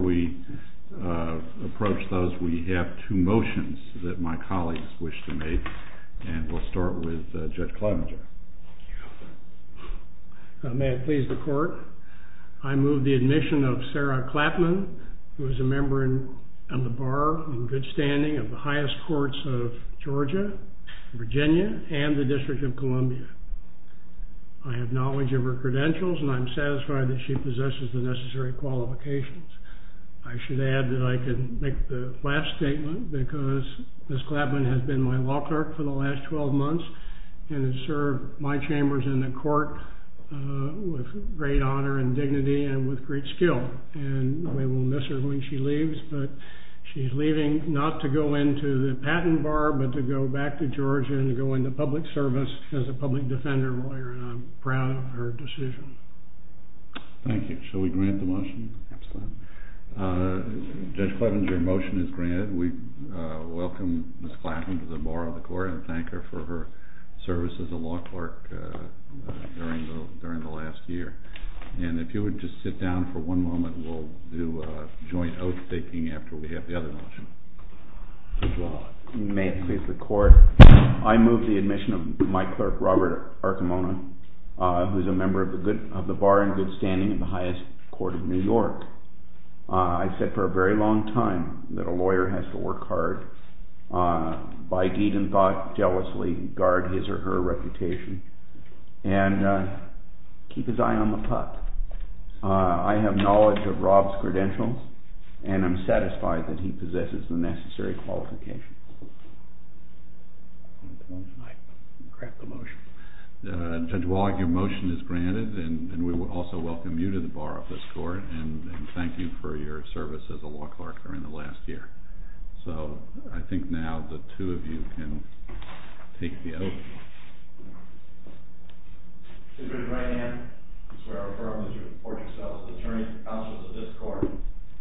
We approach those. We have two motions that my colleagues wish to make, and we'll start with Judge Klavenger. May it please the Court, I move the admission of Sarah Klavenger, who is a member of the Bar in good standing of the highest courts of Georgia, Virginia, and the District of Columbia. I have knowledge of her credentials, and I'm satisfied that she possesses the necessary qualifications. I should add that I could make the last statement because Ms. Klavenger has been my law clerk for the last 12 months, and has served my chambers in the court with great honor and dignity and with great skill. And we will miss her when she leaves, but she's leaving not to go into the patent bar, but to go back to Georgia and to go into public service as a public defender lawyer, and I'm proud of her decision. Thank you. Shall we grant the motion? Absolutely. Judge Klavenger, your motion is granted. We welcome Ms. Klavenger to the Bar of the Court and thank her for her service as a law clerk during the last year. And if you would just sit down for one moment, we'll do joint oath-taking after we have the other motion. May it please the Court, I move the admission of my clerk, Robert Arcimona, who is a member of the Bar in good standing of the highest court of New York. I've said for a very long time that a lawyer has to work hard, by deed and thought, jealously, guard his or her reputation, and keep his eye on the puck. I have knowledge of Rob's credentials, and I'm satisfied that he possesses the necessary qualifications. Judge Wallach, your motion is granted, and we also welcome you to the Bar of the Court and thank you for your service as a law clerk during the last year. So, I think now the two of you can take the oath. Mr. Klavenger, I swear and affirm that you report yourself as an attorney and counsel to this court.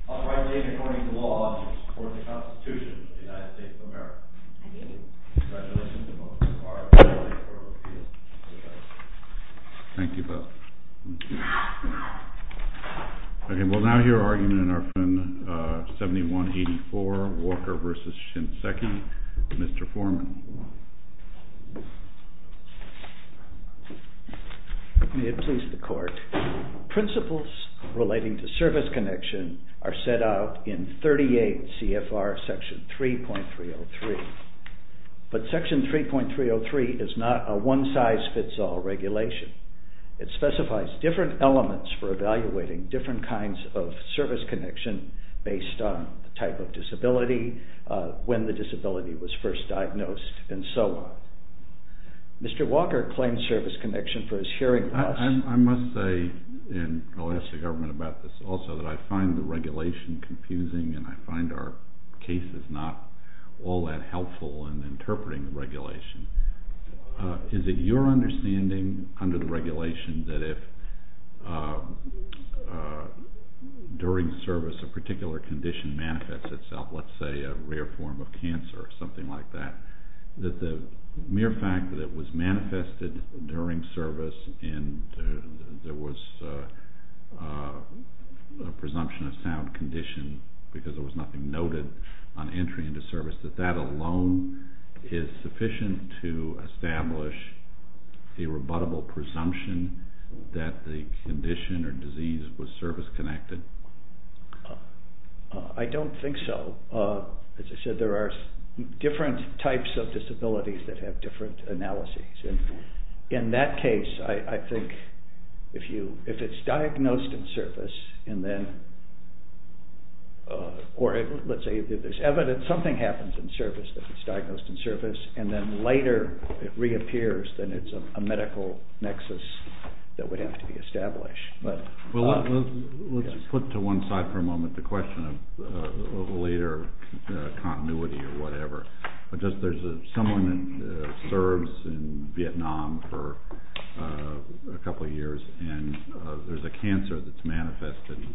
I'll rightly be adhering to the law and to the support of the Constitution of the United States of America. Congratulations, and welcome to the Bar of the Court of Appeal. Thank you both. Okay, we'll now hear argument in our friend 7184, Walker v. Shinseki, Mr. Foreman. May it please the Court. Principles relating to service connection are set out in 38 CFR section 3.303, but section 3.303 is not a one-size-fits-all regulation. It specifies different elements for evaluating different kinds of service connection based on the type of disability, when the disability was first diagnosed, and so on. Mr. Walker claims service connection for his hearing loss. I must say, and I'll ask the government about this also, that I find the regulation confusing and I find our cases not all that helpful in interpreting the regulation. Is it your understanding under the regulation that if during service a particular condition manifests itself, let's say a rare form of cancer or something like that, that the mere fact that it was manifested during service and there was a presumption of sound condition because there was nothing noted on entry into service, that that alone is sufficient to establish a rebuttable presumption that the condition or disease was service-connected? I don't think so. As I said, there are different types of disabilities that have different analyses. In that case, I think if it's diagnosed in service, or let's say something happens in service, if it's diagnosed in service, and then later it reappears, then it's a medical nexus that would have to be established. Let's put to one side for a moment the question of later continuity or whatever. There's someone that serves in Vietnam for a couple of years, and there's a cancer that's manifested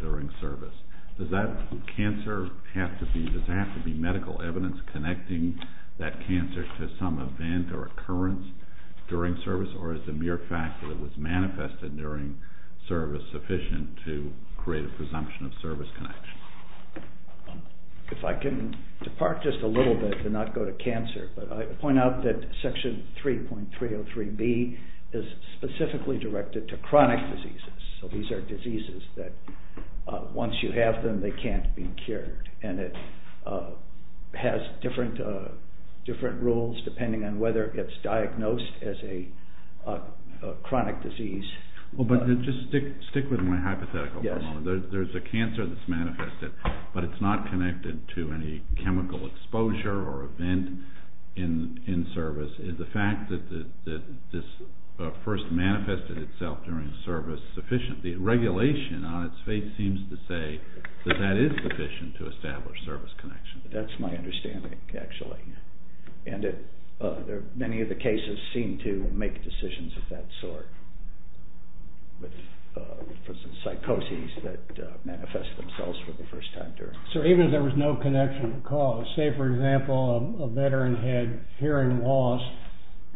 during service. Does that cancer have to be medical evidence connecting that cancer to some event or occurrence during service, or is the mere fact that it was manifested during service sufficient to create a presumption of service connection? If I can depart just a little bit and not go to cancer, but I point out that Section 3.303B is specifically directed to chronic diseases. So these are diseases that once you have them, they can't be cured, and it has different rules depending on whether it's diagnosed as a chronic disease. Well, but just stick with my hypothetical for a moment. There's a cancer that's manifested, but it's not connected to any chemical exposure or event in service. Is the fact that this first manifested itself during service sufficient? The regulation on its face seems to say that that is sufficient to establish service connection. That's my understanding, actually. And many of the cases seem to make decisions of that sort. For instance, psychoses that manifest themselves for the first time during service. So even if there was no connection to cause. Say, for example, a veteran had hearing loss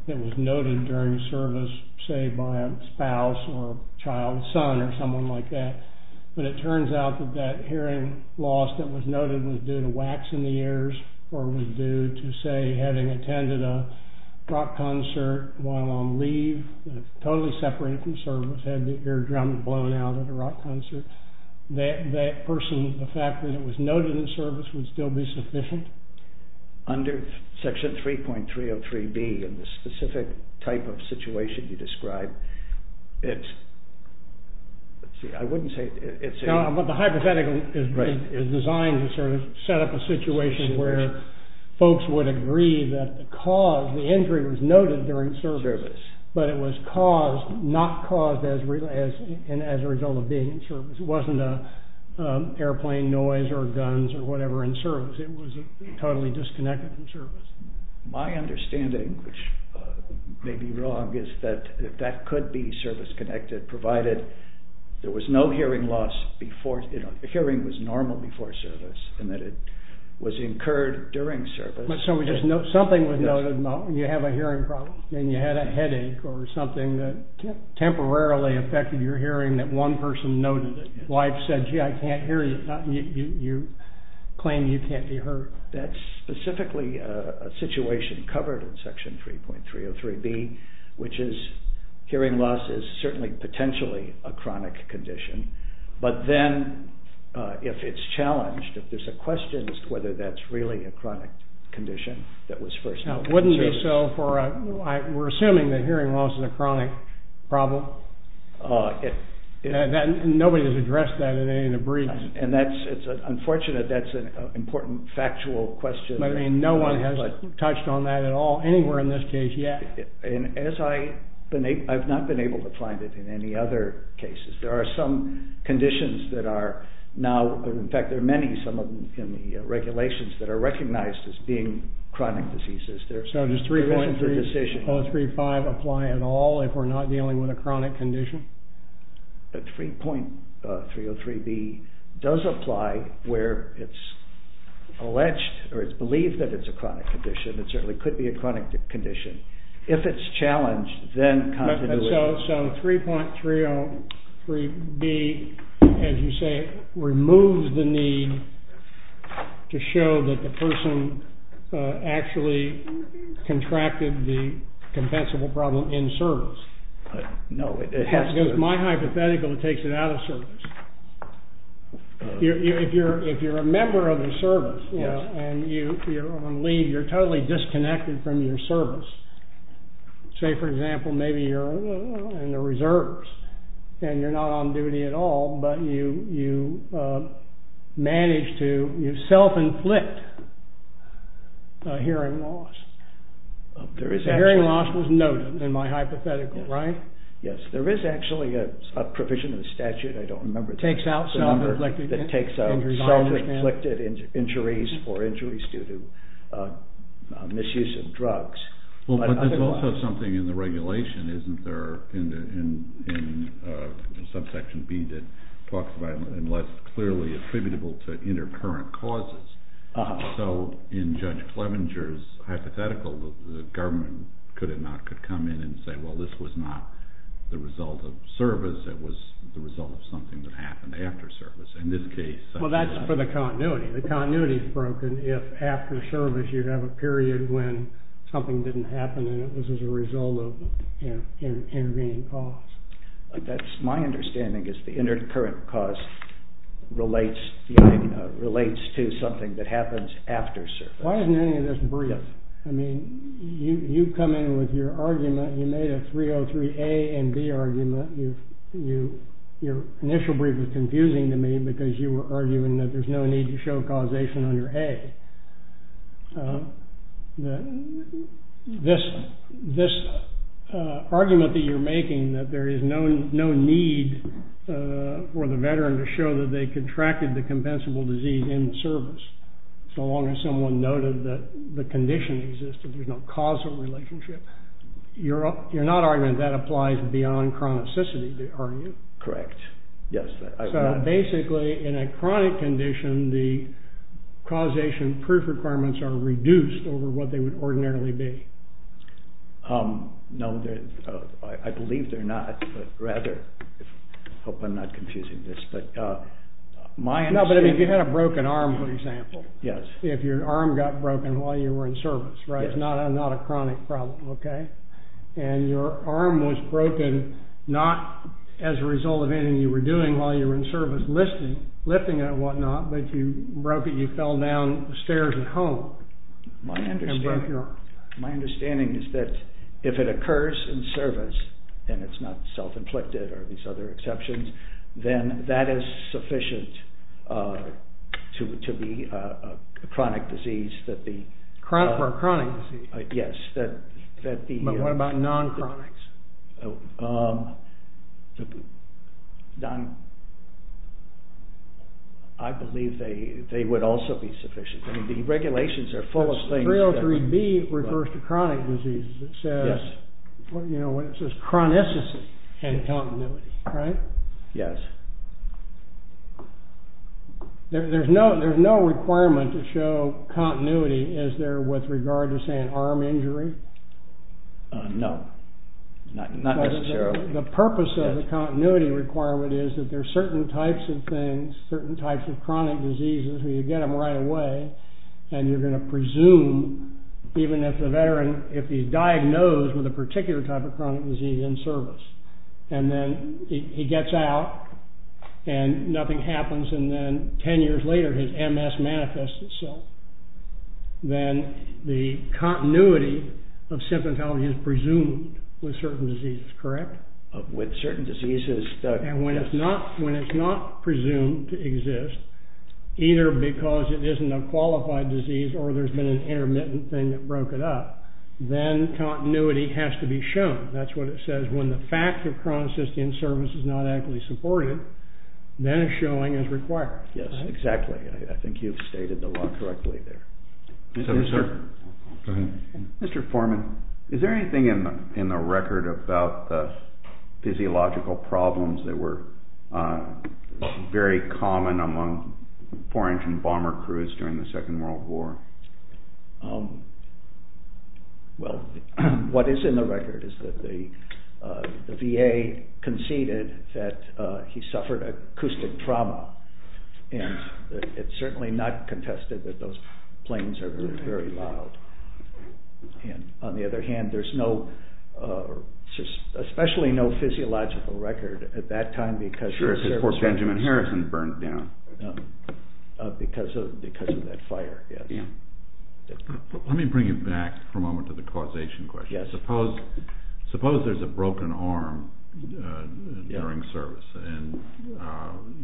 that was noted during service, say, by a spouse or a child's son or someone like that. But it turns out that that hearing loss that was noted was due to wax in the ears or was due to, say, having attended a rock concert while on leave, totally separated from service, had the eardrums blown out at a rock concert. That person, the fact that it was noted in service would still be sufficient? Under Section 3.303B, in the specific type of situation you described, it's... I wouldn't say it's... My understanding, which may be wrong, is that that could be service-connected, provided there was no hearing loss before... hearing was normal before service and that it was incurred during service. So something was noted and you have a hearing problem and you had a headache or something that temporarily affected your hearing that one person noted that wife said, gee, I can't hear you. You claim you can't be heard. That's specifically a situation covered in Section 3.303B, which is hearing loss is certainly potentially a chronic condition, but then if it's challenged, if there's a question as to whether that's really a chronic condition that was first noted... Now, wouldn't it be so for... we're assuming that hearing loss is a chronic problem? Nobody has addressed that in any of the briefs. And that's... it's unfortunate that's an important factual question. I mean, no one has touched on that at all anywhere in this case yet. And as I... I've not been able to find it in any other cases. There are some conditions that are now... in fact, there are many, some of them in the regulations that are recognized as being chronic diseases. So does 3.303B apply at all if we're not dealing with a chronic condition? 3.303B does apply where it's alleged or it's believed that it's a chronic condition. It certainly could be a chronic condition. If it's challenged, then... So 3.303B, as you say, removes the need to show that the person actually contracted the compensable problem in service. But no, it has to... It's my hypothetical, it takes it out of service. If you're a member of the service and you're on leave, you're totally disconnected from your service. Say, for example, maybe you're in the reserves and you're not on duty at all, but you manage to... you self-inflict a hearing loss. The hearing loss was noted in my hypothetical, right? Yes, there is actually a provision in the statute, I don't remember the number, that takes out self-inflicted injuries for injuries due to misuse of drugs. Well, but there's also something in the regulation, isn't there, in subsection B that talks about unless clearly attributable to intercurrent causes. So in Judge Clevenger's hypothetical, the government could come in and say, well, this was not the result of service, it was the result of something that happened after service. In this case... Well, that's for the continuity. The continuity is broken if after service you have a period when something didn't happen and it was as a result of an intervening cause. That's my understanding, is the intercurrent cause relates to something that happens after service. Why isn't any of this brief? I mean, you come in with your argument, you made a 303A and B argument, your initial brief was confusing to me because you were arguing that there's no need to show causation under A. This argument that you're making, that there is no need for the veteran to show that they contracted the compensable disease in service, so long as someone noted that the condition existed, there's no causal relationship, you're not arguing that applies beyond chronicity, are you? Correct, yes. So basically, in a chronic condition, the causation proof requirements are reduced over what they would ordinarily be. No, I believe they're not, but rather, I hope I'm not confusing this, but my understanding... No, but if you had a broken arm, for example. Yes. If your arm got broken while you were in service, right? Yes. It's not a chronic problem, okay? And your arm was broken not as a result of anything you were doing while you were in service, lifting and whatnot, but you broke it, you fell down the stairs at home. My understanding is that if it occurs in service and it's not self-inflicted or these other exceptions, then that is sufficient to be a chronic disease. A chronic disease? Yes. But what about non-chronic? I believe they would also be sufficient. I mean, the regulations are full of things... 303B refers to chronic diseases. It says, you know, it says chronicity and continuity, right? Yes. There's no requirement to show continuity, is there, with regard to, say, an arm injury? No, not necessarily. The purpose of the continuity requirement is that there are certain types of things, certain types of chronic diseases, where you get them right away, and you're going to presume, even if the veteran, if he's diagnosed with a particular type of chronic disease in service, and then he gets out and nothing happens, and then ten years later his MS manifests itself, then the continuity of symptomatology is presumed with certain diseases, correct? With certain diseases... And when it's not presumed to exist, either because it isn't a qualified disease or there's been an intermittent thing that broke it up, then continuity has to be shown. That's what it says. When the fact of chronicity in service is not adequately supported, then a showing is required. Yes, exactly. I think you've stated the law correctly there. Yes, sir. Go ahead. Mr. Foreman, is there anything in the record about the physiological problems that were very common among four-engine bomber crews during the Second World War? Well, what is in the record is that the VA conceded that he suffered acoustic trauma, and it's certainly not contested that those planes are very loud. And, on the other hand, there's especially no physiological record at that time because... Sure, it says, poor Benjamin Harrison burned down. Because of that fire, yes. Let me bring you back for a moment to the causation question. Yes. Suppose there's a broken arm during service, and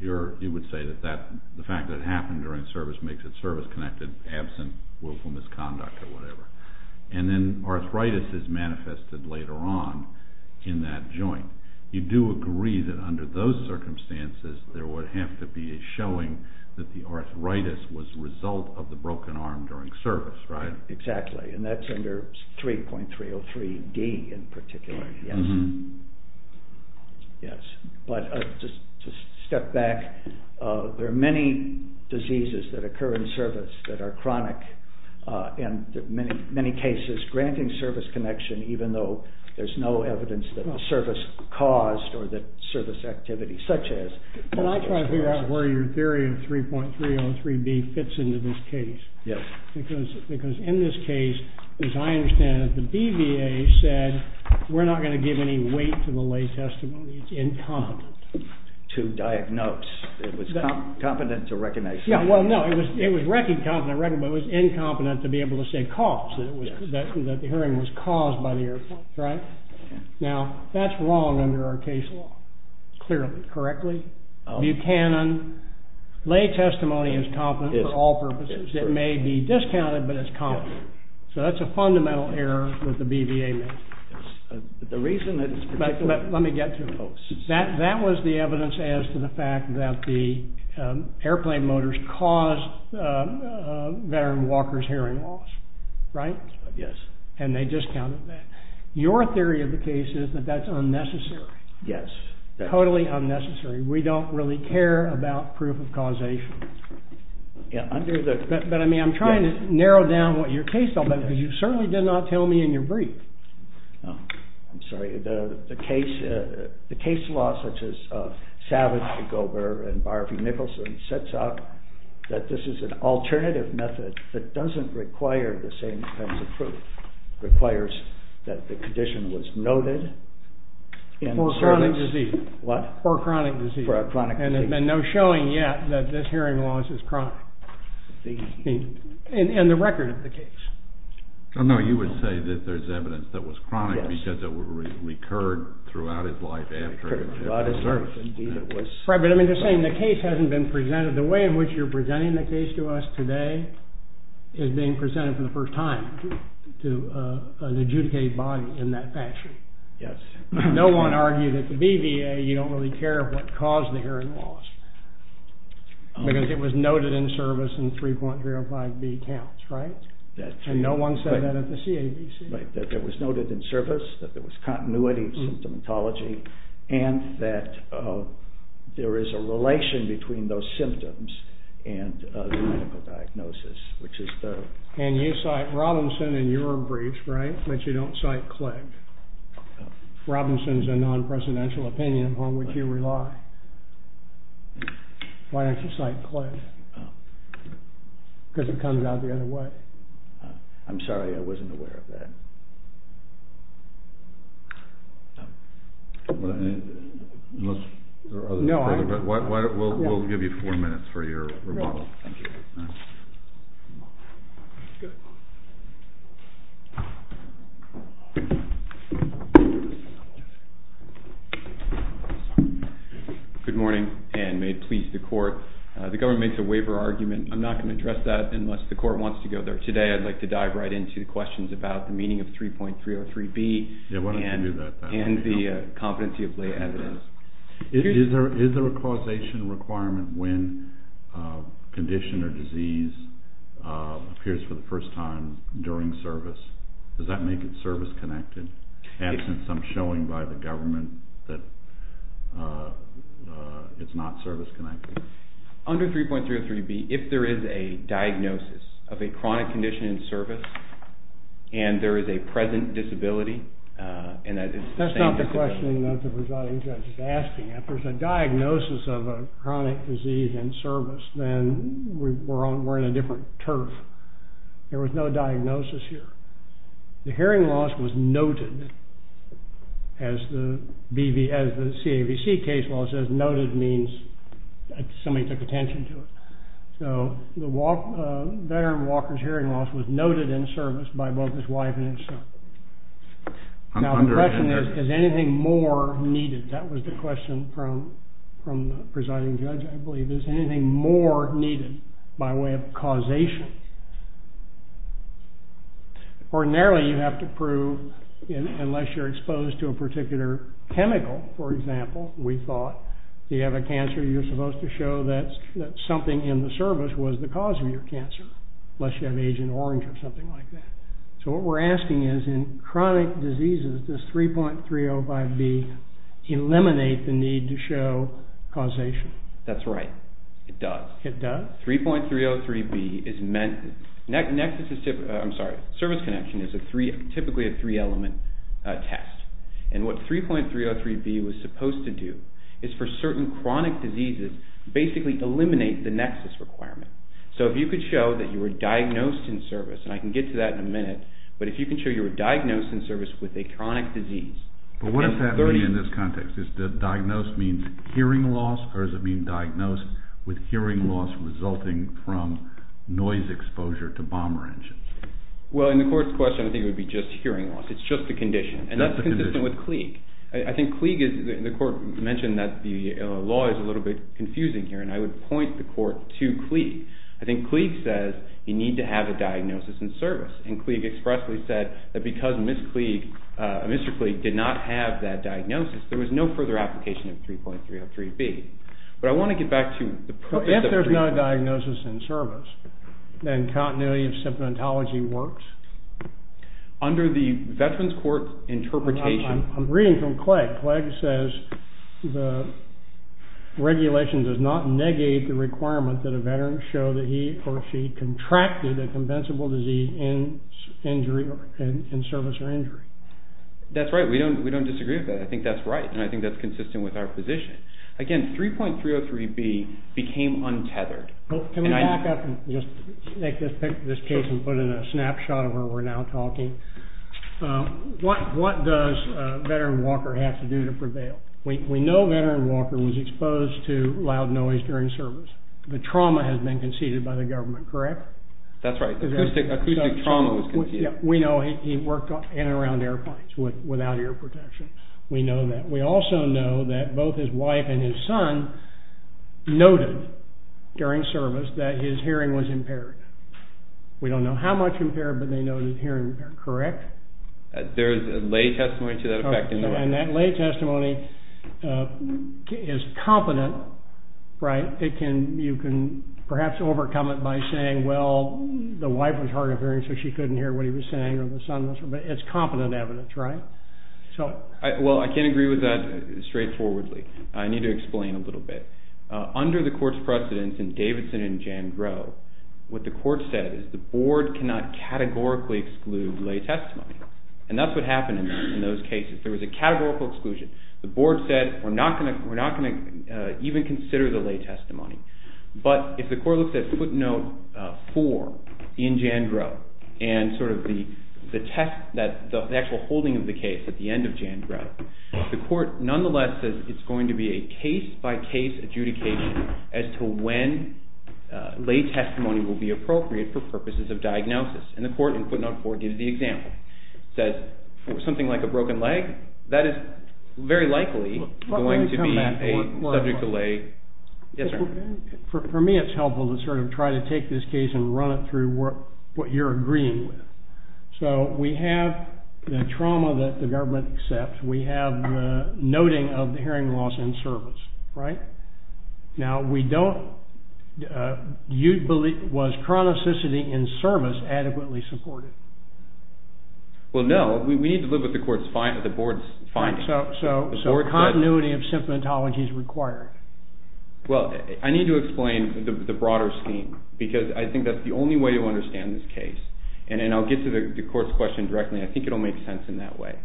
you would say that the fact that it happened during service makes it service-connected, absent willful misconduct or whatever. And then arthritis is manifested later on in that joint. You do agree that under those circumstances, there would have to be a showing that the arthritis was the result of the broken arm during service, right? Exactly, and that's under 3.303D in particular, yes. Yes, but just to step back, there are many diseases that occur in service that are chronic, and in many cases granting service connection even though there's no evidence that the service caused or that service activity, such as... Can I try to figure out where your theory of 3.303D fits into this case? Yes. Because in this case, as I understand it, the BVA said, we're not going to give any weight to the lay testimony. It's incompetent. To diagnose. It was competent to recognize. Yeah, well, no. It was record-competent, but it was incompetent to be able to say caused, that the hearing was caused by the airplane, right? Now, that's wrong under our case law, clearly. Correctly? Buchanan, lay testimony is competent for all purposes. It may be discounted, but it's competent. So that's a fundamental error that the BVA made. The reason that it's... Let me get to it, folks. That was the evidence as to the fact that the airplane motors caused veteran Walker's hearing loss, right? Yes. And they discounted that. Your theory of the case is that that's unnecessary. Yes. Totally unnecessary. We don't really care about proof of causation. Yeah, under the... But, I mean, I'm trying to narrow down what your case... Yes. Because you certainly did not tell me in your brief. Oh, I'm sorry. The case law, such as Savage-Gober and Barfi-Nicholson, sets out that this is an alternative method that doesn't require the same kinds of proof. It requires that the condition was noted... For a chronic disease. What? For a chronic disease. And there's been no showing yet that this hearing loss is chronic. And the record of the case. Oh, no, you would say that there's evidence that was chronic because it recurred throughout his life after... Throughout his life, indeed, it was... Right, but I'm just saying the case hasn't been presented... The way in which you're presenting the case to us today is being presented for the first time to an adjudicated body in that fashion. Yes. No one argued at the BVA you don't really care what caused the hearing loss. Because it was noted in service in 3.305B counts, right? And no one said that at the CABC. Right, that it was noted in service, that there was continuity of symptomatology, and that there is a relation between those symptoms and the medical diagnosis, which is the... And you cite Robinson in your briefs, right, but you don't cite Clegg? Robinson is a non-presidential opinion on which you rely. Why don't you cite Clegg? Because it comes out the other way. I'm sorry, I wasn't aware of that. Unless there are other... No, I... We'll give you four minutes for your rebuttal. Great, thank you. Good morning, and may it please the court. The government makes a waiver argument. I'm not going to address that unless the court wants to go there today. I'd like to dive right into the questions about the meaning of 3.303B and the competency of lay evidence. Is there a causation requirement when condition or disease appears for the first time during service? Does that make it service-connected? Absent some showing by the government that it's not service-connected. Under 3.303B, if there is a diagnosis of a chronic condition in service, and there is a present disability, and that is the same... That's not the questioning that the presiding judge is asking. If there's a diagnosis of a chronic disease in service, then we're on a different turf. There was no diagnosis here. The hearing loss was noted, as the CAVC case law says. Noted means somebody took attention to it. So the veteran Walker's hearing loss was noted in service by both his wife and his son. Now, the question is, is anything more needed? That was the question from the presiding judge, I believe. Is anything more needed by way of causation? Ordinarily, you have to prove, unless you're exposed to a particular chemical, for example, we thought, if you have a cancer, you're supposed to show that something in the service was the cause of your cancer, unless you have Agent Orange or something like that. So what we're asking is, in chronic diseases, does 3.305B eliminate the need to show causation? That's right. It does. It does? 3.303B is meant to ‑‑ I'm sorry, service connection is typically a three-element test. And what 3.303B was supposed to do is, for certain chronic diseases, basically eliminate the nexus requirement. So if you could show that you were diagnosed in service, and I can get to that in a minute, but if you can show you were diagnosed in service with a chronic disease. But what does that mean in this context? Diagnosed means hearing loss? Or does it mean diagnosed with hearing loss resulting from noise exposure to bomber engines? Well, in the Court's question, I think it would be just hearing loss. It's just a condition. And that's consistent with Klieg. I think Klieg is ‑‑ the Court mentioned that the law is a little bit confusing here, and I would point the Court to Klieg. I think Klieg says you need to have a diagnosis in service. And Klieg expressly said that because Ms. Klieg, Mr. Klieg, did not have that diagnosis, there was no further application of 3.303B. But I want to get back to the purpose of 3.303B. If there's no diagnosis in service, then continuity of symptomatology works? Under the Veterans Court interpretation ‑‑ I'm reading from Klieg. Klieg says the regulation does not negate the requirement that a veteran show that he or she contracted a compensable disease in service or injury. That's right. We don't disagree with that. I think that's right, and I think that's consistent with our position. Again, 3.303B became untethered. Can we back up and just take this case and put in a snapshot of where we're now talking? What does veteran Walker have to do to prevail? We know veteran Walker was exposed to loud noise during service. The trauma has been conceded by the government, correct? That's right. Acoustic trauma was conceded. We know he worked in and around airplanes without ear protection. We know that. We also know that both his wife and his son noted during service that his hearing was impaired. We don't know how much impaired, but they noted hearing impaired, correct? There is a lay testimony to that effect. And that lay testimony is competent, right? You can perhaps overcome it by saying, well, the wife was hard of hearing, so she couldn't hear what he was saying, or the son wasn't, but it's competent evidence, right? Well, I can't agree with that straightforwardly. I need to explain a little bit. Under the court's precedence in Davidson and Jandreau, what the court said is the board cannot categorically exclude lay testimony, and that's what happened in those cases. There was a categorical exclusion. The board said we're not going to even consider the lay testimony, but if the court looks at footnote 4 in Jandreau and sort of the actual holding of the case at the end of Jandreau, the court nonetheless says it's going to be a case-by-case adjudication as to when lay testimony will be appropriate for purposes of diagnosis, and the court in footnote 4 gives the example. It says for something like a broken leg, that is very likely going to be a subject to lay testimony. For me, it's helpful to sort of try to take this case and run it through what you're agreeing with. So we have the trauma that the government accepts. We have the noting of the hearing loss in service, right? Now, we don't, do you believe, was chronicity in service adequately supported? Well, no. We need to look at the board's findings. So continuity of symptomatology is required. Well, I need to explain the broader scheme because I think that's the only way to understand this case, and I'll get to the court's question directly. I think it will make sense in that way.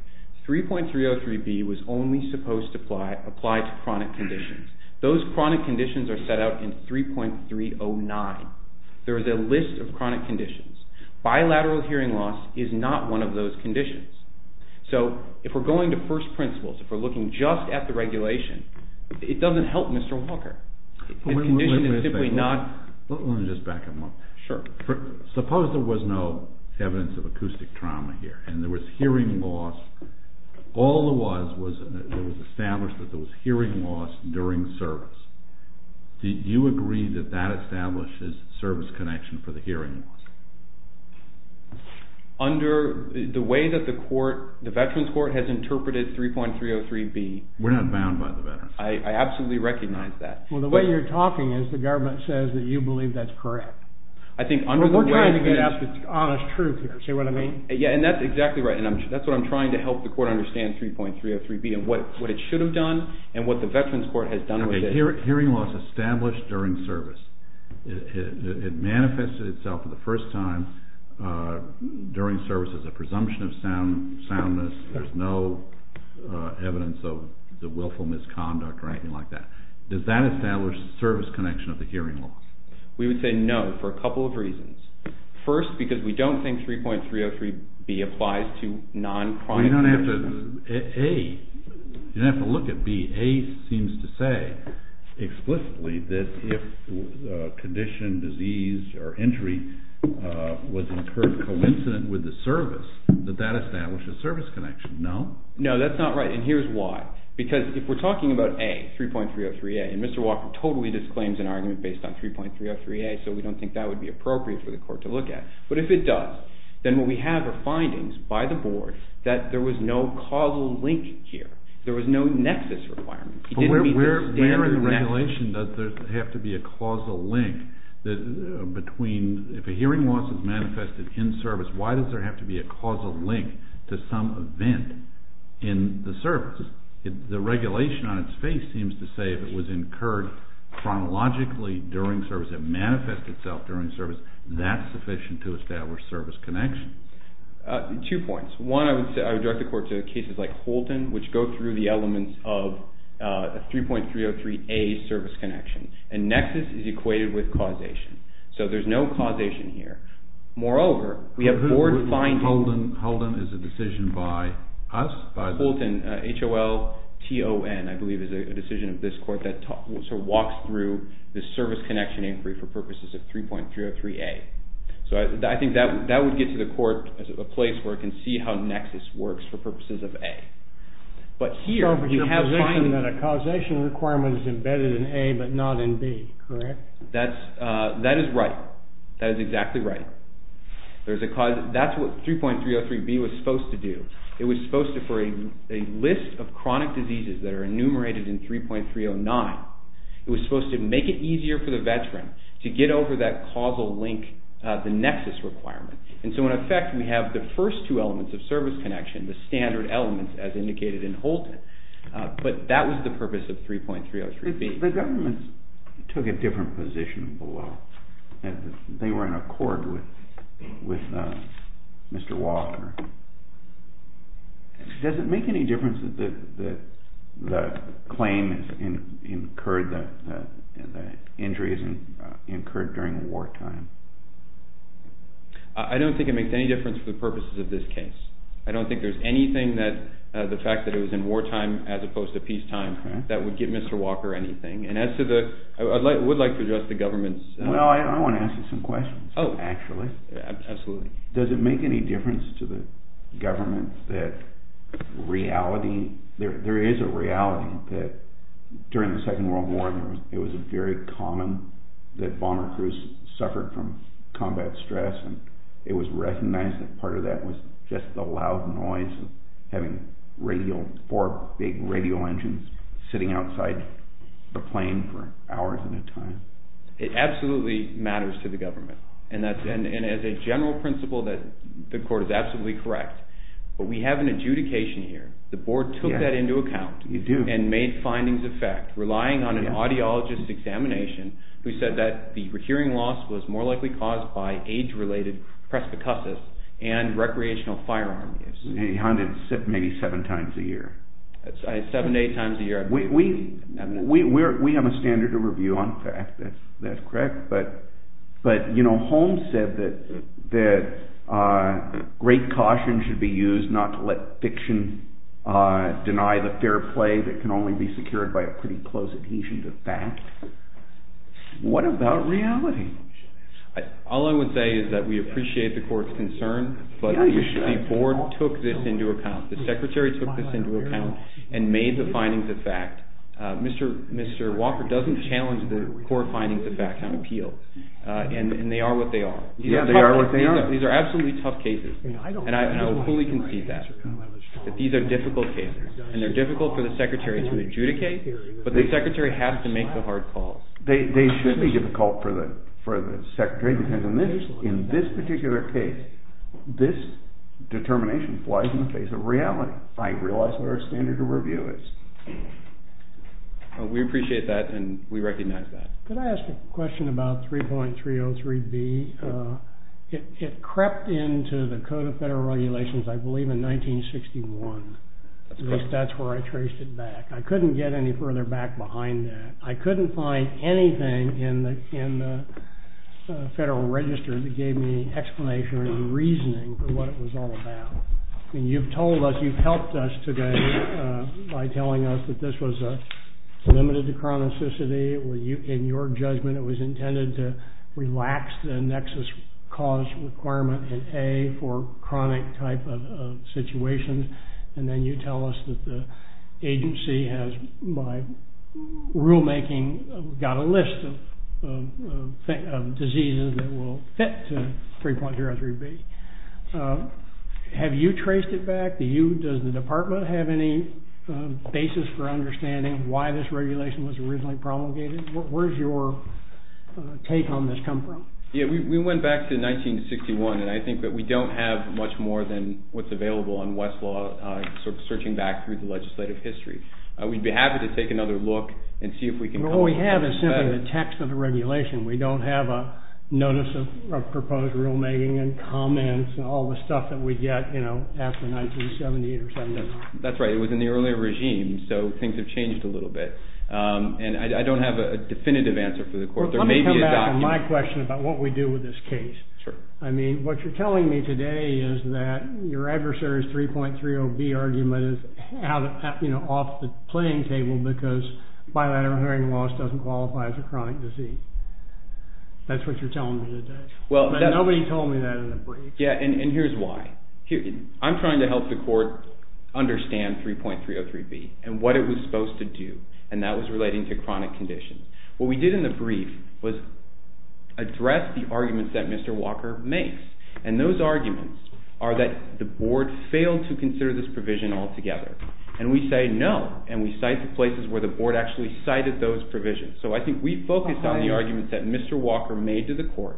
3.303B was only supposed to apply to chronic conditions. Those chronic conditions are set out in 3.309. There is a list of chronic conditions. Bilateral hearing loss is not one of those conditions. So if we're going to first principles, if we're looking just at the regulation, it doesn't help Mr. Walker. The condition is simply not... Let me just back up a moment. Sure. Suppose there was no evidence of acoustic trauma here, and there was hearing loss. All there was was it was established that there was hearing loss during service. Do you agree that that establishes service connection for the hearing loss? Under the way that the veterans court has interpreted 3.303B... We're not bound by the veterans court. I absolutely recognize that. Well, the way you're talking is the government says that you believe that's correct. We're trying to get honest truth here, see what I mean? Yeah, and that's exactly right, and that's what I'm trying to help the court understand 3.303B and what it should have done and what the veterans court has done with it. Hearing loss established during service. It manifested itself for the first time during service as a presumption of soundness. There's no evidence of the willful misconduct or anything like that. Does that establish service connection of the hearing loss? We would say no for a couple of reasons. First, because we don't think 3.303B applies to non-crime... You don't have to look at B. A seems to say explicitly that if condition, disease, or injury was incurred coincident with the service that that establishes service connection. No? No, that's not right, and here's why. Because if we're talking about A, 3.303A, and Mr. Walker totally disclaims an argument based on 3.303A, so we don't think that would be appropriate for the court to look at, but if it does, then what we have are findings by the board that there was no causal link here. There was no nexus requirement. Where in regulation does there have to be a causal link? If a hearing loss is manifested in service, why does there have to be a causal link to some event in the service? The regulation on its face seems to say if it was incurred chronologically during service, it manifested itself during service, that's sufficient to establish service connection. Two points. One, I would direct the court to cases like Holton, which go through the elements of 3.303A service connection, and nexus is equated with causation. So there's no causation here. Moreover, we have board findings. Holden is a decision by us? Holton, H-O-L-T-O-N, I believe, is a decision of this court that walks through the service connection inquiry for purposes of 3.303A. So I think that would get to the court as a place where it can see how nexus works for purposes of A. But here you have findings. But you're positing that a causation requirement is embedded in A but not in B, correct? That is right. That is exactly right. That's what 3.303B was supposed to do. It was supposed to, for a list of chronic diseases that are enumerated in 3.309, it was supposed to make it easier for the veteran to get over that causal link, the nexus requirement. And so in effect, we have the first two elements of service connection, the standard elements as indicated in Holton. But that was the purpose of 3.303B. The government took a different position below. They were in accord with Mr. Walker. Does it make any difference that the claim is incurred, that the injury is incurred during wartime? I don't think it makes any difference for the purposes of this case. I don't think there's anything that the fact that it was in wartime as opposed to peacetime that would give Mr. Walker anything. And as to the, I would like to address the government's... Well, I want to ask you some questions actually. Absolutely. Does it make any difference to the government that reality, there is a reality that during the Second World War, it was very common that bomber crews suffered from combat stress and it was recognized that part of that was just the loud noise of having four big radio engines sitting outside the plane for hours at a time? It absolutely matters to the government. And as a general principle, the court is absolutely correct. But we have an adjudication here. The board took that into account and made findings of fact, relying on an audiologist's examination who said that the hearing loss was more likely caused by age-related presbycosis and recreational firearm use. And he hunted maybe seven times a year. Seven to eight times a year. We have a standard of review on facts, that's correct. But Holmes said that great caution should be used not to let fiction deny the fair play that can only be secured by a pretty close adhesion to fact. What about reality? All I would say is that we appreciate the court's concern, but the board took this into account. The secretary took this into account and made the findings of fact. Mr. Walker doesn't challenge the court findings of fact on appeal, and they are what they are. These are absolutely tough cases, and I fully concede that. These are difficult cases, and they're difficult for the secretary to adjudicate, but the secretary has to make the hard call. They should be difficult for the secretary. In this particular case, this determination flies in the face of reality. I realize what our standard of review is. We appreciate that, and we recognize that. Could I ask a question about 3.303B? It crept into the Code of Federal Regulations, I believe, in 1961. At least that's where I traced it back. I couldn't get any further back behind that. I couldn't find anything in the Federal Register that gave me explanation or any reasoning for what it was all about. And you've told us, you've helped us today by telling us that this was limited to chronicity. In your judgment, it was intended to relax the nexus cause requirement in A for chronic type of situations. And then you tell us that the agency has, by rulemaking, got a list of diseases that will fit 3.303B. Have you traced it back? Does the department have any basis for understanding why this regulation was originally promulgated? Where's your take on this come from? Yeah, we went back to 1961, and I think that we don't have much more than what's available on Westlaw, sort of searching back through the legislative history. We'd be happy to take another look and see if we can come up with something better. What we have is simply the text of the regulation. We don't have a notice of proposed rulemaking and comments and all the stuff that we get after 1978 or 79. That's right. It was in the earlier regime, so things have changed a little bit. And I don't have a definitive answer for the court. Let me come back to my question about what we do with this case. I mean, what you're telling me today is that your adversary's 3.30B argument is off the playing table because bilateral hearing loss doesn't qualify as a chronic disease. That's what you're telling me today. Nobody told me that in the brief. Yeah, and here's why. I'm trying to help the court understand 3.303B and what it was supposed to do, and that was relating to chronic conditions. What we did in the brief was address the arguments that Mr. Walker makes, and those arguments are that the board failed to consider this provision altogether. And we say no, and we cite the places where the board actually cited those provisions. So I think we focused on the arguments that Mr. Walker made to the court,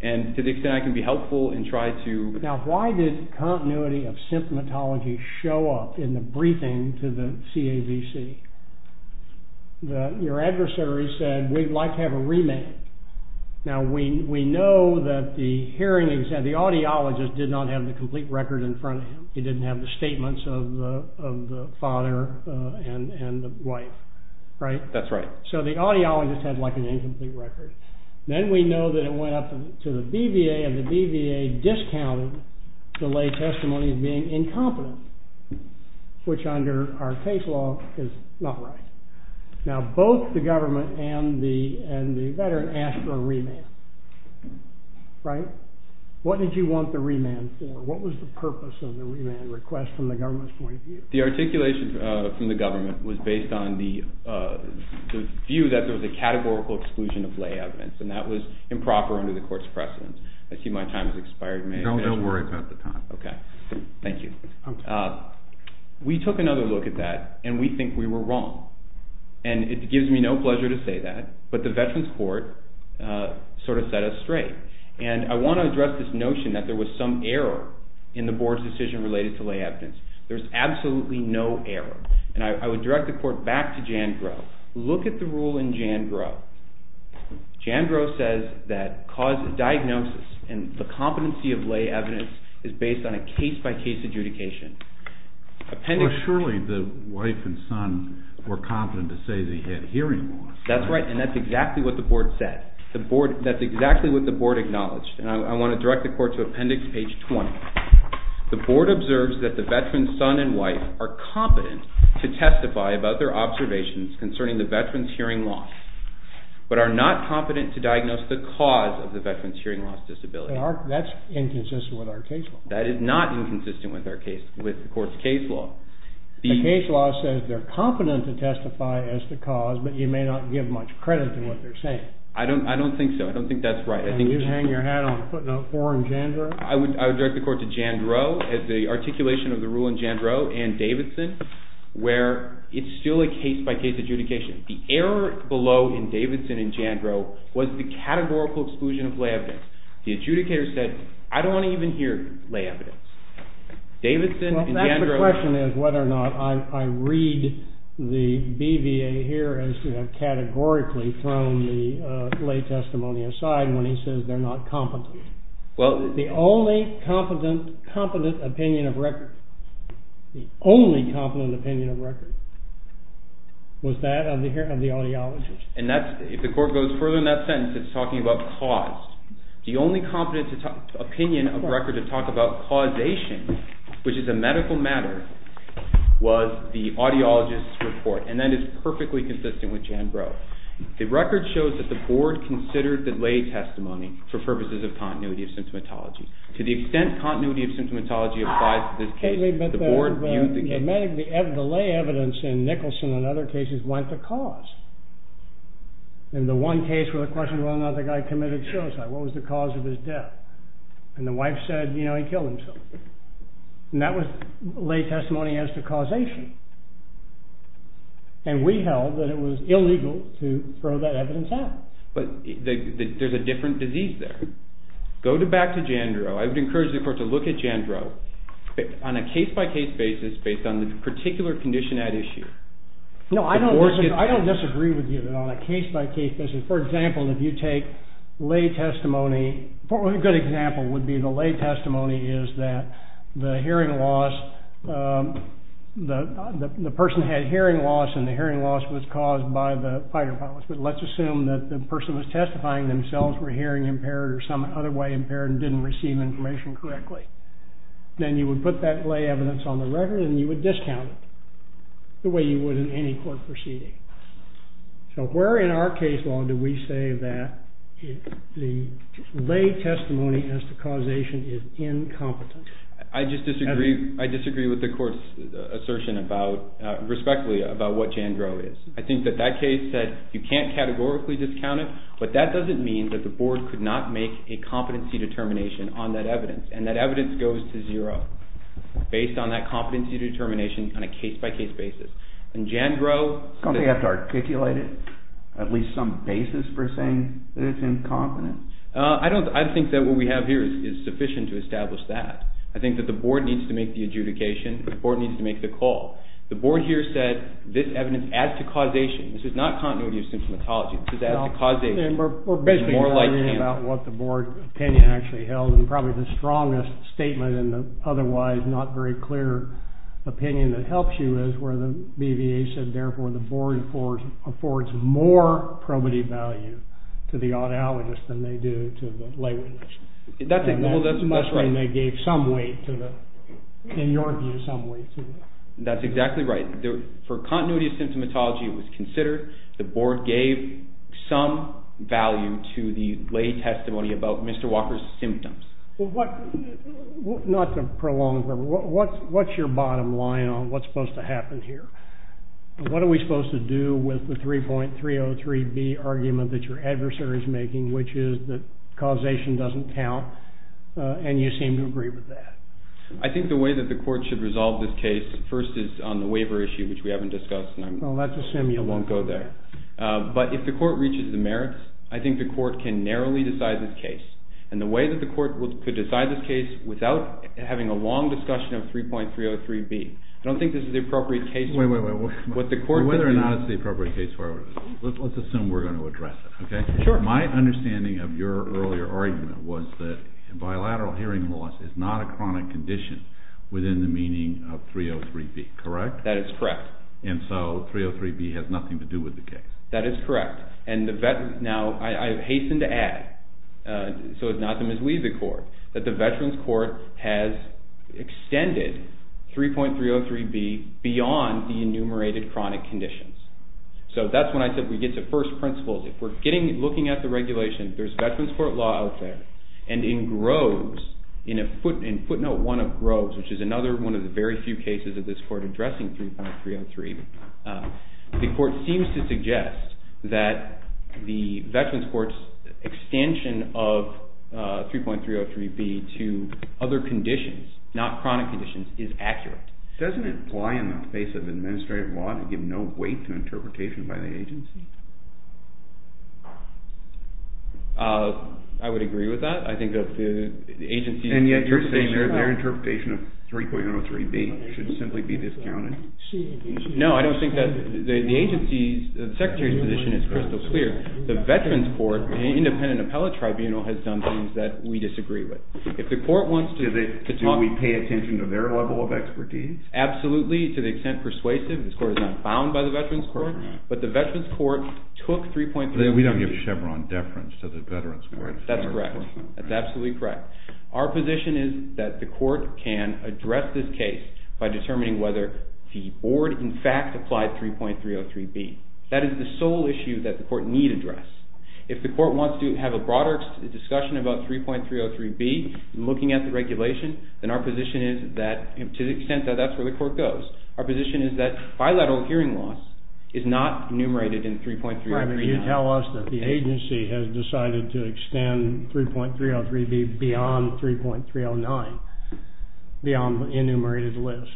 and to the extent I can be helpful and try to... Now, why did continuity of symptomatology show up in the briefing to the CAVC? Your adversary said, we'd like to have a remand. Now, we know that the audiologist did not have the complete record in front of him. He didn't have the statements of the father and the wife, right? That's right. So the audiologist had, like, an incomplete record. Then we know that it went up to the BVA, and the BVA discounted the lay testimony as being incompetent, which under our case law is not right. Now, both the government and the veteran asked for a remand, right? What did you want the remand for? What was the purpose of the remand request from the government's point of view? The articulation from the government was based on the view that there was a categorical exclusion of lay evidence, and that was improper under the court's precedent. I see my time has expired. No, don't worry about the time. Okay. Thank you. We took another look at that, and we think we were wrong. And it gives me no pleasure to say that, but the Veterans Court sort of set us straight. And I want to address this notion that there was some error in the board's decision related to lay evidence. There's absolutely no error. And I would direct the court back to Jandrow. Look at the rule in Jandrow. Jandrow says that diagnosis and the competency of lay evidence is based on a case-by-case adjudication. Well, surely the wife and son were competent to say they had hearing loss. That's right, and that's exactly what the board said. That's exactly what the board acknowledged. And I want to direct the court to appendix page 20. The board observes that the veteran's son and wife are competent to testify about their observations concerning the veteran's hearing loss, but are not competent to diagnose the cause of the veteran's hearing loss disability. That's inconsistent with our case law. That is not inconsistent with the court's case law. The case law says they're competent to testify as the cause, but you may not give much credit to what they're saying. I don't think so. I don't think that's right. And you'd hang your hat on footnote 4 in Jandrow? I would direct the court to Jandrow as the articulation of the rule in Jandrow and Davidson where it's still a case-by-case adjudication. The error below in Davidson and Jandrow was the categorical exclusion of lay evidence. The adjudicator said, I don't want to even hear lay evidence. That's the question is whether or not I read the BVA here as categorically throwing the lay testimony aside when he says they're not competent. The only competent opinion of record was that of the audiologist. And if the court goes further in that sentence, it's talking about cause. The only competent opinion of record to talk about causation, which is a medical matter, was the audiologist's report. And that is perfectly consistent with Jandrow. The record shows that the board considered the lay testimony for purposes of continuity of symptomatology. To the extent continuity of symptomatology applies to this case, the board viewed the case as consistent. The lay evidence in Nicholson and other cases went to cause. In the one case where the question was whether or not the guy committed suicide, what was the cause of his death? And the wife said, you know, he killed himself. And that was lay testimony as to causation. And we held that it was illegal to throw that evidence out. But there's a different disease there. Go back to Jandrow. I would encourage the court to look at Jandrow on a case-by-case basis based on the particular condition at issue. No, I don't disagree with you on a case-by-case basis. For example, if you take lay testimony. A good example would be the lay testimony is that the person had hearing loss, and the hearing loss was caused by the fire department. But let's assume that the person was testifying themselves were hearing impaired or some other way impaired and didn't receive information correctly. Then you would put that lay evidence on the record, and you would discount it. The way you would in any court proceeding. So where in our case law do we say that the lay testimony as to causation is incompetent? I just disagree with the court's assertion about, respectfully, about what Jandrow is. I think that that case said you can't categorically discount it, but that doesn't mean that the board could not make a competency determination on that evidence. And that evidence goes to zero based on that competency determination on a case-by-case basis. I don't think you have to articulate it. At least some basis for saying that it's incompetent. I think that what we have here is sufficient to establish that. I think that the board needs to make the adjudication. The board needs to make the call. The board here said this evidence as to causation. This is not continuity of symptomatology. We're basically arguing about what the board opinion actually held, and probably the strongest statement in the otherwise not very clear opinion that helps you is where the BVA said, therefore, the board affords more probity value to the audiologist than they do to the lay witness. That's right. And that's when they gave some weight to the, in your view, some weight to it. That's exactly right. For continuity of symptomatology, it was considered. The board gave some value to the lay testimony about Mr. Walker's symptoms. Not to prolong, but what's your bottom line on what's supposed to happen here? What are we supposed to do with the 3.303B argument that your adversary is making, which is that causation doesn't count, and you seem to agree with that. I think the way that the court should resolve this case first is on the waiver issue, which we haven't discussed. Well, let's assume you won't go there. But if the court reaches the merits, I think the court can narrowly decide this case. And the way that the court could decide this case without having a long discussion of 3.303B, I don't think this is the appropriate case for it. Wait, wait, wait. Whether or not it's the appropriate case for it, let's assume we're going to address it, okay? Sure. My understanding of your earlier argument was that bilateral hearing loss is not a chronic condition within the meaning of 3.303B, correct? That is correct. And so 3.303B has nothing to do with the case. That is correct. Now, I hasten to add, so as not to mislead the court, that the Veterans Court has extended 3.303B beyond the enumerated chronic conditions. So that's when I said we get to first principles. If we're looking at the regulation, there's Veterans Court law out there. And in Groves, in footnote 1 of Groves, which is another one of the very few cases of this court addressing 3.303, the court seems to suggest that the Veterans Court's extension of 3.303B to other conditions, not chronic conditions, is accurate. Doesn't it apply in the face of administrative law to give no weight to interpretation by the agency? I would agree with that. I think that the agency's interpretation of 3.303B should simply be discounted. No, I don't think that the agency's, the secretary's position is crystal clear. The Veterans Court, the independent appellate tribunal, has done things that we disagree with. If the court wants to talk – Do we pay attention to their level of expertise? Absolutely, to the extent persuasive. This court is not bound by the Veterans Court. But the Veterans Court took 3.303B. We don't give Chevron deference to the Veterans Court. That's correct. That's absolutely correct. Our position is that the court can address this case by determining whether the board in fact applied 3.303B. That is the sole issue that the court need address. If the court wants to have a broader discussion about 3.303B, looking at the regulation, then our position is that, to the extent that that's where the court goes, our position is that bilateral hearing loss is not enumerated in 3.303B. You tell us that the agency has decided to extend 3.303B beyond 3.309, beyond the enumerated list.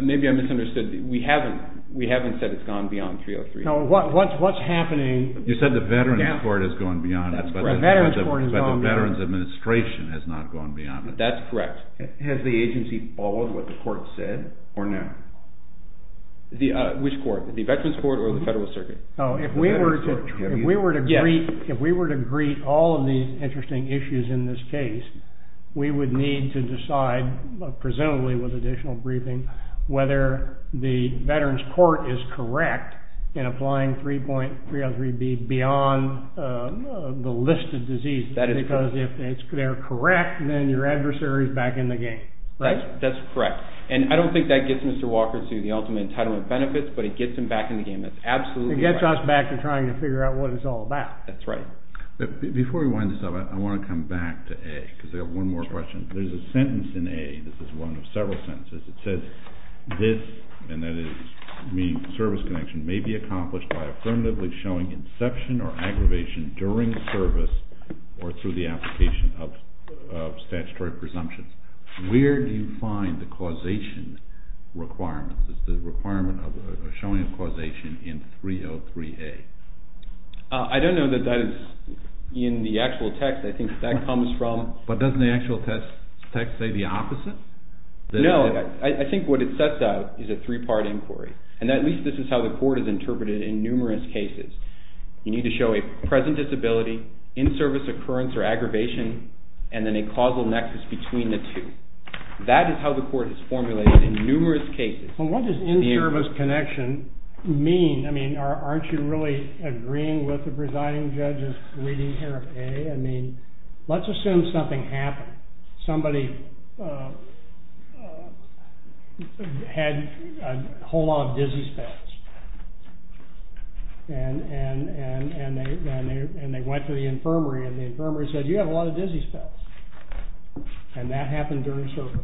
Maybe I misunderstood. We haven't. We haven't said it's gone beyond 3.303B. No, what's happening – You said the Veterans Court has gone beyond. That's correct. The Veterans Court has gone beyond. But the Veterans Administration has not gone beyond. That's correct. Has the agency followed what the court said or not? Which court? The Veterans Court or the Federal Circuit? If we were to greet all of these interesting issues in this case, we would need to decide, presumably with additional briefing, whether the Veterans Court is correct in applying 3.303B beyond the listed disease. That is correct. Because if they're correct, then your adversary is back in the game, right? That's correct. And I don't think that gets Mr. Walker to the ultimate entitlement benefits, but it gets him back in the game. That's absolutely right. It gets us back to trying to figure out what it's all about. That's right. Before we wind this up, I want to come back to A, because I have one more question. There's a sentence in A. This is one of several sentences. It says, this, and that is meaning service connection, may be accomplished by affirmatively showing inception or aggravation during service or through the application of statutory presumptions. Where do you find the causation requirement? Is the requirement of showing causation in 3.03A? I don't know that that is in the actual text. I think that comes from… But doesn't the actual text say the opposite? No. I think what it sets out is a three-part inquiry. And at least this is how the court has interpreted it in numerous cases. You need to show a present disability, in-service occurrence or aggravation, and then a causal nexus between the two. That is how the court has formulated it in numerous cases. Well, what does in-service connection mean? I mean, aren't you really agreeing with the presiding judge's reading here of A? I mean, let's assume something happened. Somebody had a whole lot of dizzy spells. And they went to the infirmary, and the infirmary said, you have a lot of dizzy spells. And that happened during service.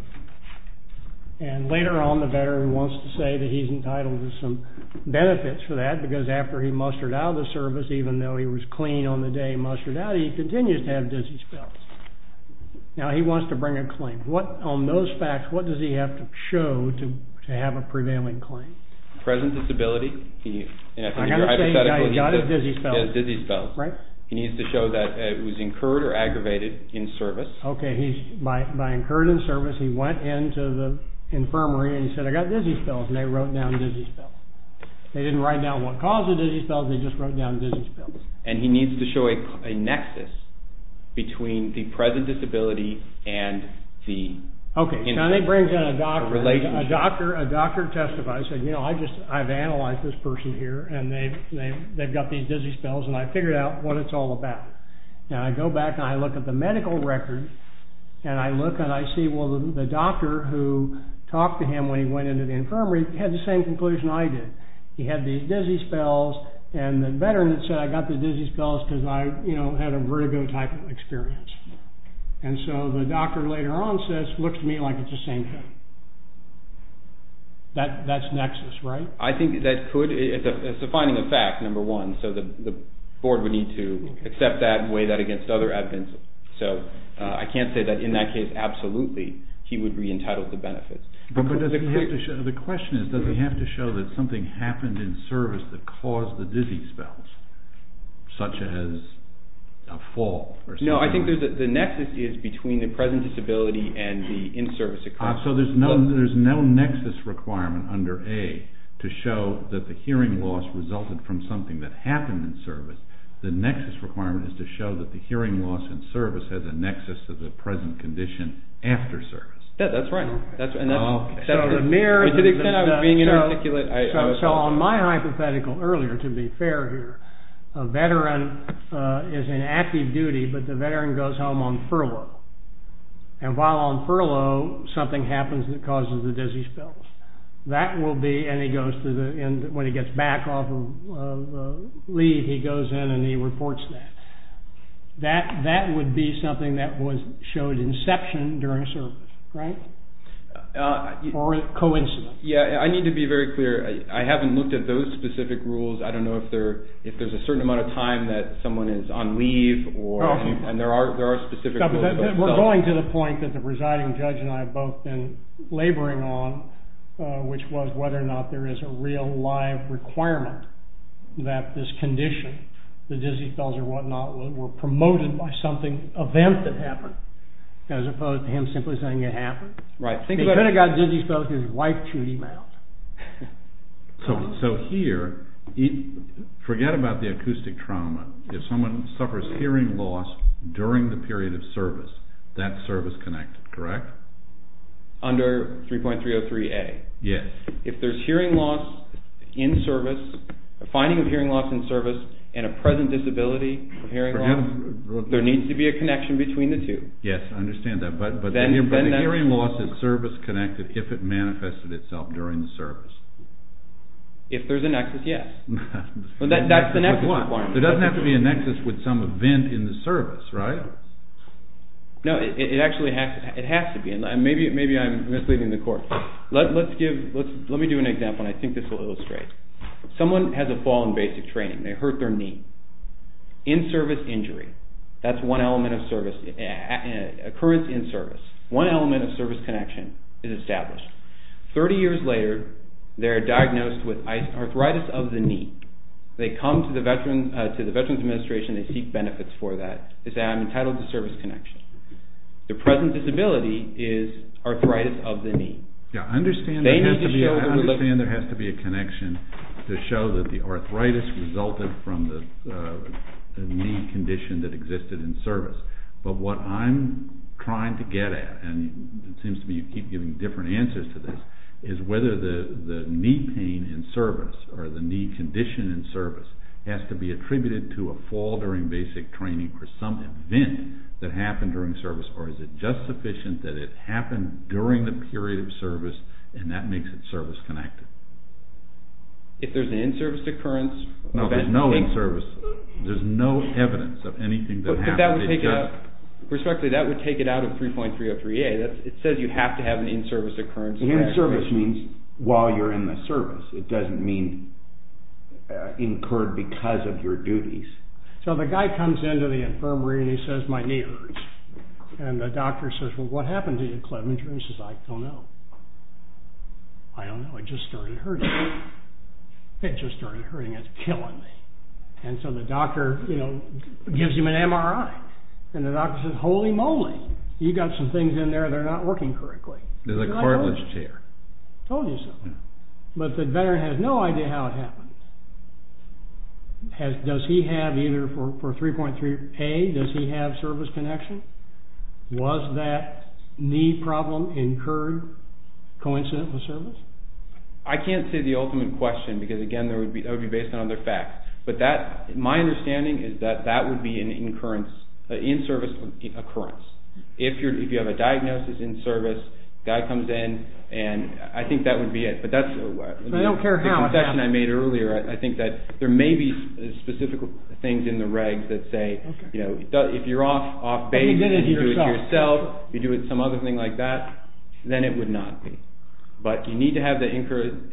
And later on, the veteran wants to say that he's entitled to some benefits for that because after he mustered out of the service, even though he was clean on the day he mustered out, he continues to have dizzy spells. Now, he wants to bring a claim. On those facts, what does he have to show to have a prevailing claim? Present disability. I've got to say, he's got his dizzy spells. He has dizzy spells. Right. He needs to show that it was incurred or aggravated in service. Okay. By incurred in service, he went into the infirmary and he said, I've got dizzy spells. And they wrote down dizzy spells. They didn't write down what caused the dizzy spells. They just wrote down dizzy spells. And he needs to show a nexus between the present disability and the relationship. Okay. Now, he brings in a doctor. A doctor testifies. He said, you know, I've analyzed this person here, and they've got these dizzy spells, and I've figured out what it's all about. Now, I go back and I look at the medical record, and I look and I see, well, the doctor who talked to him when he went into the infirmary had the same conclusion I did. He had these dizzy spells, and the veteran said, I got the dizzy spells because I, you know, had a vertigo type of experience. And so the doctor later on says, looks to me like it's the same thing. That's nexus, right? I think that could. It's a finding of fact, number one. So the board would need to accept that and weigh that against other evidence. So I can't say that in that case, absolutely, he would be entitled to benefits. The question is, does he have to show that something happened in service that caused the dizzy spells, such as a fall? No, I think the nexus is between the present disability and the in-service occurrence. So there's no nexus requirement under A to show that the hearing loss resulted from something that happened in service. The nexus requirement is to show that the hearing loss in service has a nexus to the present condition after service. That's right. So on my hypothetical earlier, to be fair here, a veteran is in active duty, but the veteran goes home on furlough. And while on furlough, something happens that causes the dizzy spells. That will be, and he goes to the end, when he gets back off of leave, he goes in and he reports that. That would be something that showed inception during service, right? Or a coincidence. Yeah, I need to be very clear. I haven't looked at those specific rules. I don't know if there's a certain amount of time that someone is on leave, and there are specific rules. We're going to the point that the presiding judge and I have both been laboring on, which was whether or not there is a real live requirement that this condition, the dizzy spells or whatnot, were promoted by something, event that happened, as opposed to him simply saying it happened. He could have got dizzy spells because his wife chewed him out. So here, forget about the acoustic trauma. If someone suffers hearing loss during the period of service, that's service-connected, correct? Under 3.303A. Yes. If there's hearing loss in service, a finding of hearing loss in service, and a present disability of hearing loss, there needs to be a connection between the two. Yes, I understand that. But the hearing loss is service-connected if it manifested itself during the service. If there's a nexus, yes. That's the nexus requirement. There doesn't have to be a nexus with some event in the service, right? No, it actually has to be. Maybe I'm misleading the court. Let me do an example, and I think this will illustrate. Someone has a fall in basic training. They hurt their knee. In-service injury, that's one element of service. Occurrence in service. One element of service connection is established. Thirty years later, they're diagnosed with arthritis of the knee. They come to the Veterans Administration. They seek benefits for that. They say, I'm entitled to service connection. Their present disability is arthritis of the knee. I understand there has to be a connection to show that the arthritis resulted from the knee condition that existed in service. But what I'm trying to get at, and it seems to me you keep giving different answers to this, is whether the knee pain in service or the knee condition in service has to be attributed to a fall during basic training or some event that happened during service, or is it just sufficient that it happened during the period of service, and that makes it service connected? If there's an in-service occurrence? No, there's no in-service. There's no evidence of anything that happened. Respectfully, that would take it out of 3.303A. It says you have to have an in-service occurrence. In-service means while you're in the service. It doesn't mean incurred because of your duties. So the guy comes into the infirmary, and he says, my knee hurts. And the doctor says, well, what happened to you, Clevenger? And he says, I don't know. I don't know. It just started hurting. It just started hurting. It's killing me. And so the doctor gives him an MRI. And the doctor says, holy moly, you've got some things in there that are not working correctly. There's a cartilage tear. Told you so. But the veteran has no idea how it happened. Does he have either for 3.3A, does he have service connection? Was that knee problem incurred coincident with service? I can't say the ultimate question because, again, that would be based on other facts. But my understanding is that that would be an in-service occurrence. If you have a diagnosis in service, the guy comes in, and I think that would be it. But that's the concession I made earlier. I think that there may be specific things in the regs that say, you know, if you're off base and you do it yourself, you do it with some other thing like that, then it would not be. But you need to have the incurred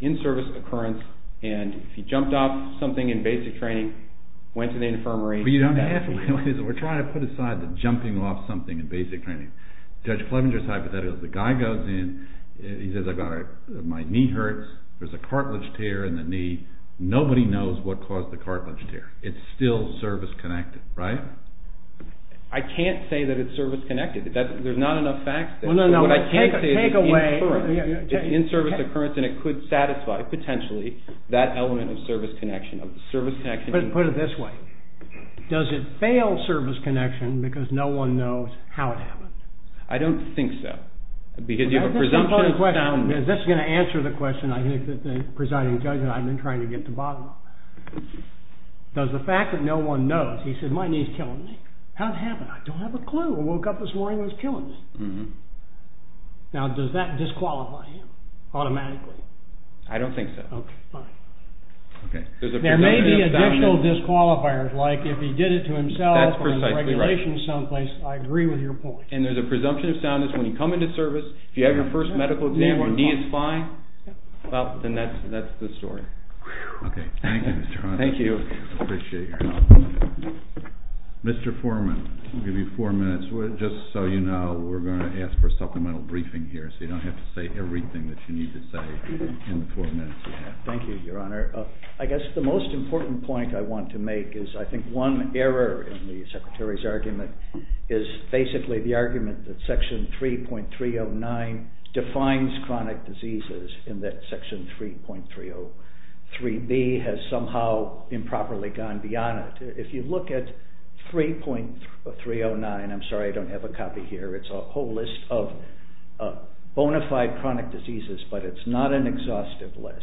in-service occurrence. And if you jumped off something in basic training, went to the infirmary. We're trying to put aside the jumping off something in basic training. Judge Clevenger's hypothetical. The guy goes in. He says, my knee hurts. There's a cartilage tear in the knee. Nobody knows what caused the cartilage tear. It's still service-connected, right? I can't say that it's service-connected. There's not enough facts. What I can say is it's in-service occurrence, and it could satisfy, potentially, that element of service connection. Put it this way. Does it fail service connection because no one knows how it happened? I don't think so. Because you have a presumption of soundness. Is this going to answer the question? I think that the presiding judge and I have been trying to get to the bottom of it. Does the fact that no one knows, he said, my knee's killing me. How'd it happen? I don't have a clue. I woke up this morning and it was killing me. Now, does that disqualify him automatically? I don't think so. Okay, fine. There may be additional disqualifiers, like if he did it to himself or the regulations someplace. I agree with your point. And there's a presumption of soundness when you come into service. If you have your first medical exam and your knee is fine, then that's the story. Okay, thank you, Mr. Horowitz. Thank you. I appreciate your help. Mr. Foreman, I'll give you four minutes. Just so you know, we're going to ask for a supplemental briefing here, so you don't have to say everything that you need to say in the four minutes you have. Thank you, Your Honor. I guess the most important point I want to make is I think one error in the Secretary's argument is basically the argument that Section 3.309 defines chronic diseases, and that Section 3.303b has somehow improperly gone beyond it. If you look at 3.309, I'm sorry, I don't have a copy here, it's a whole list of bona fide chronic diseases, but it's not an exhaustive list.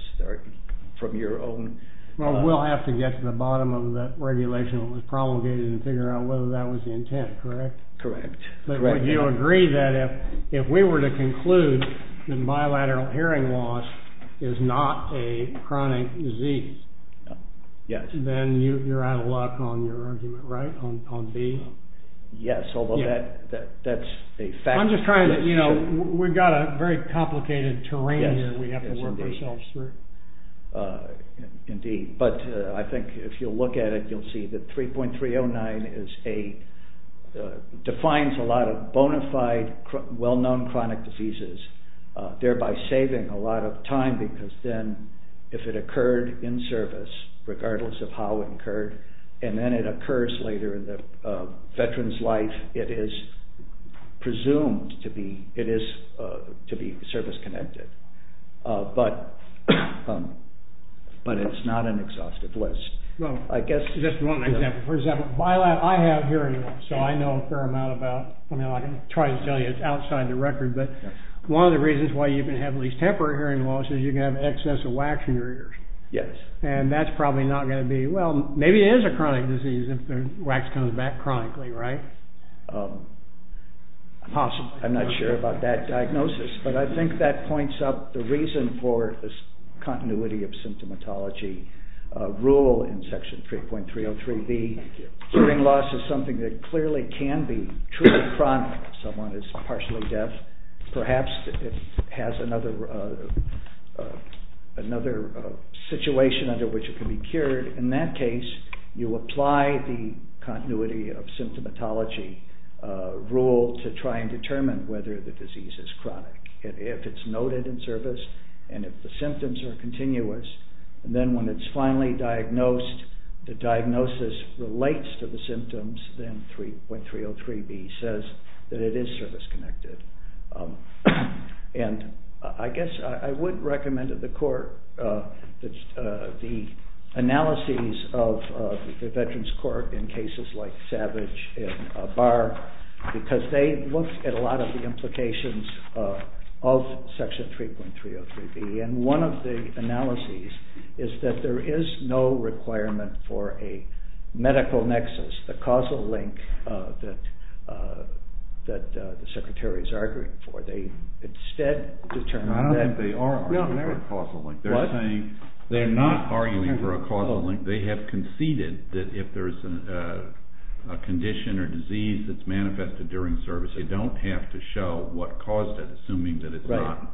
Well, we'll have to get to the bottom of that regulation that was promulgated and figure out whether that was the intent, correct? Correct. But would you agree that if we were to conclude that bilateral hearing loss is not a chronic disease, then you're out of luck on your argument, right, on b? Yes, although that's a fact. I'm just trying to, you know, we've got a very complicated terrain here we have to work ourselves through. Indeed, but I think if you look at it, you'll see that 3.309 defines a lot of bona fide well-known chronic diseases, thereby saving a lot of time, because then if it occurred in service, regardless of how it occurred, and then it occurs later in the veteran's life, it is presumed to be service-connected. But it's not an exhaustive list. Just one example. For example, I have hearing loss, so I know a fair amount about, I mean, I can try to tell you it's outside the record, but one of the reasons why you can have at least temporary hearing loss is you can have excess of wax in your ears. Yes. And that's probably not going to be, well, maybe it is a chronic disease if the wax comes back chronically, right? I'm not sure about that diagnosis, but I think that points out the reason for this continuity of symptomatology rule in Section 3.303B. Hearing loss is something that clearly can be truly chronic if someone is partially deaf, perhaps it has another situation under which it can be cured. In that case, you apply the continuity of symptomatology rule to try and determine whether the disease is chronic. If it's noted in service, and if the symptoms are continuous, and then when it's finally diagnosed, the diagnosis relates to the symptoms, then 3.303B says that it is service-connected. And I guess I would recommend to the Court the analyses of the Veterans Court in cases like Savage and Barr, because they looked at a lot of the implications of Section 3.303B, and one of the analyses is that there is no requirement for a medical nexus, the causal link that the Secretary is arguing for. They instead determined that... I don't think they are arguing for a causal link. What? They're saying they're not arguing for a causal link. They have conceded that if there's a condition or disease that's manifested during service, you don't have to show what caused it, assuming that it's not...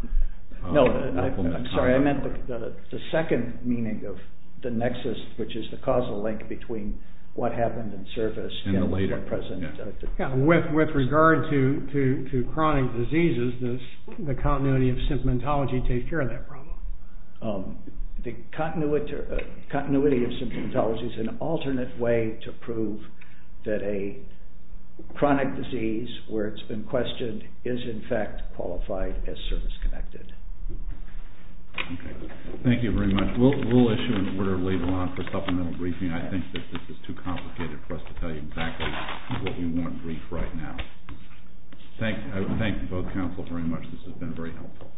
No, I'm sorry, I meant the second meaning of the nexus, which is the causal link between what happened in service... And the later. Yeah, with regard to chronic diseases, the continuity of symptomatology takes care of that problem. The continuity of symptomatology is an alternate way to prove that a chronic disease, where it's been questioned, is in fact qualified as service-connected. Thank you very much. We'll issue an order to leave it on for supplemental briefing. I think that this is too complicated for us to tell you exactly what you want briefed right now. Thank you both counsel very much. This has been very helpful. Thank you.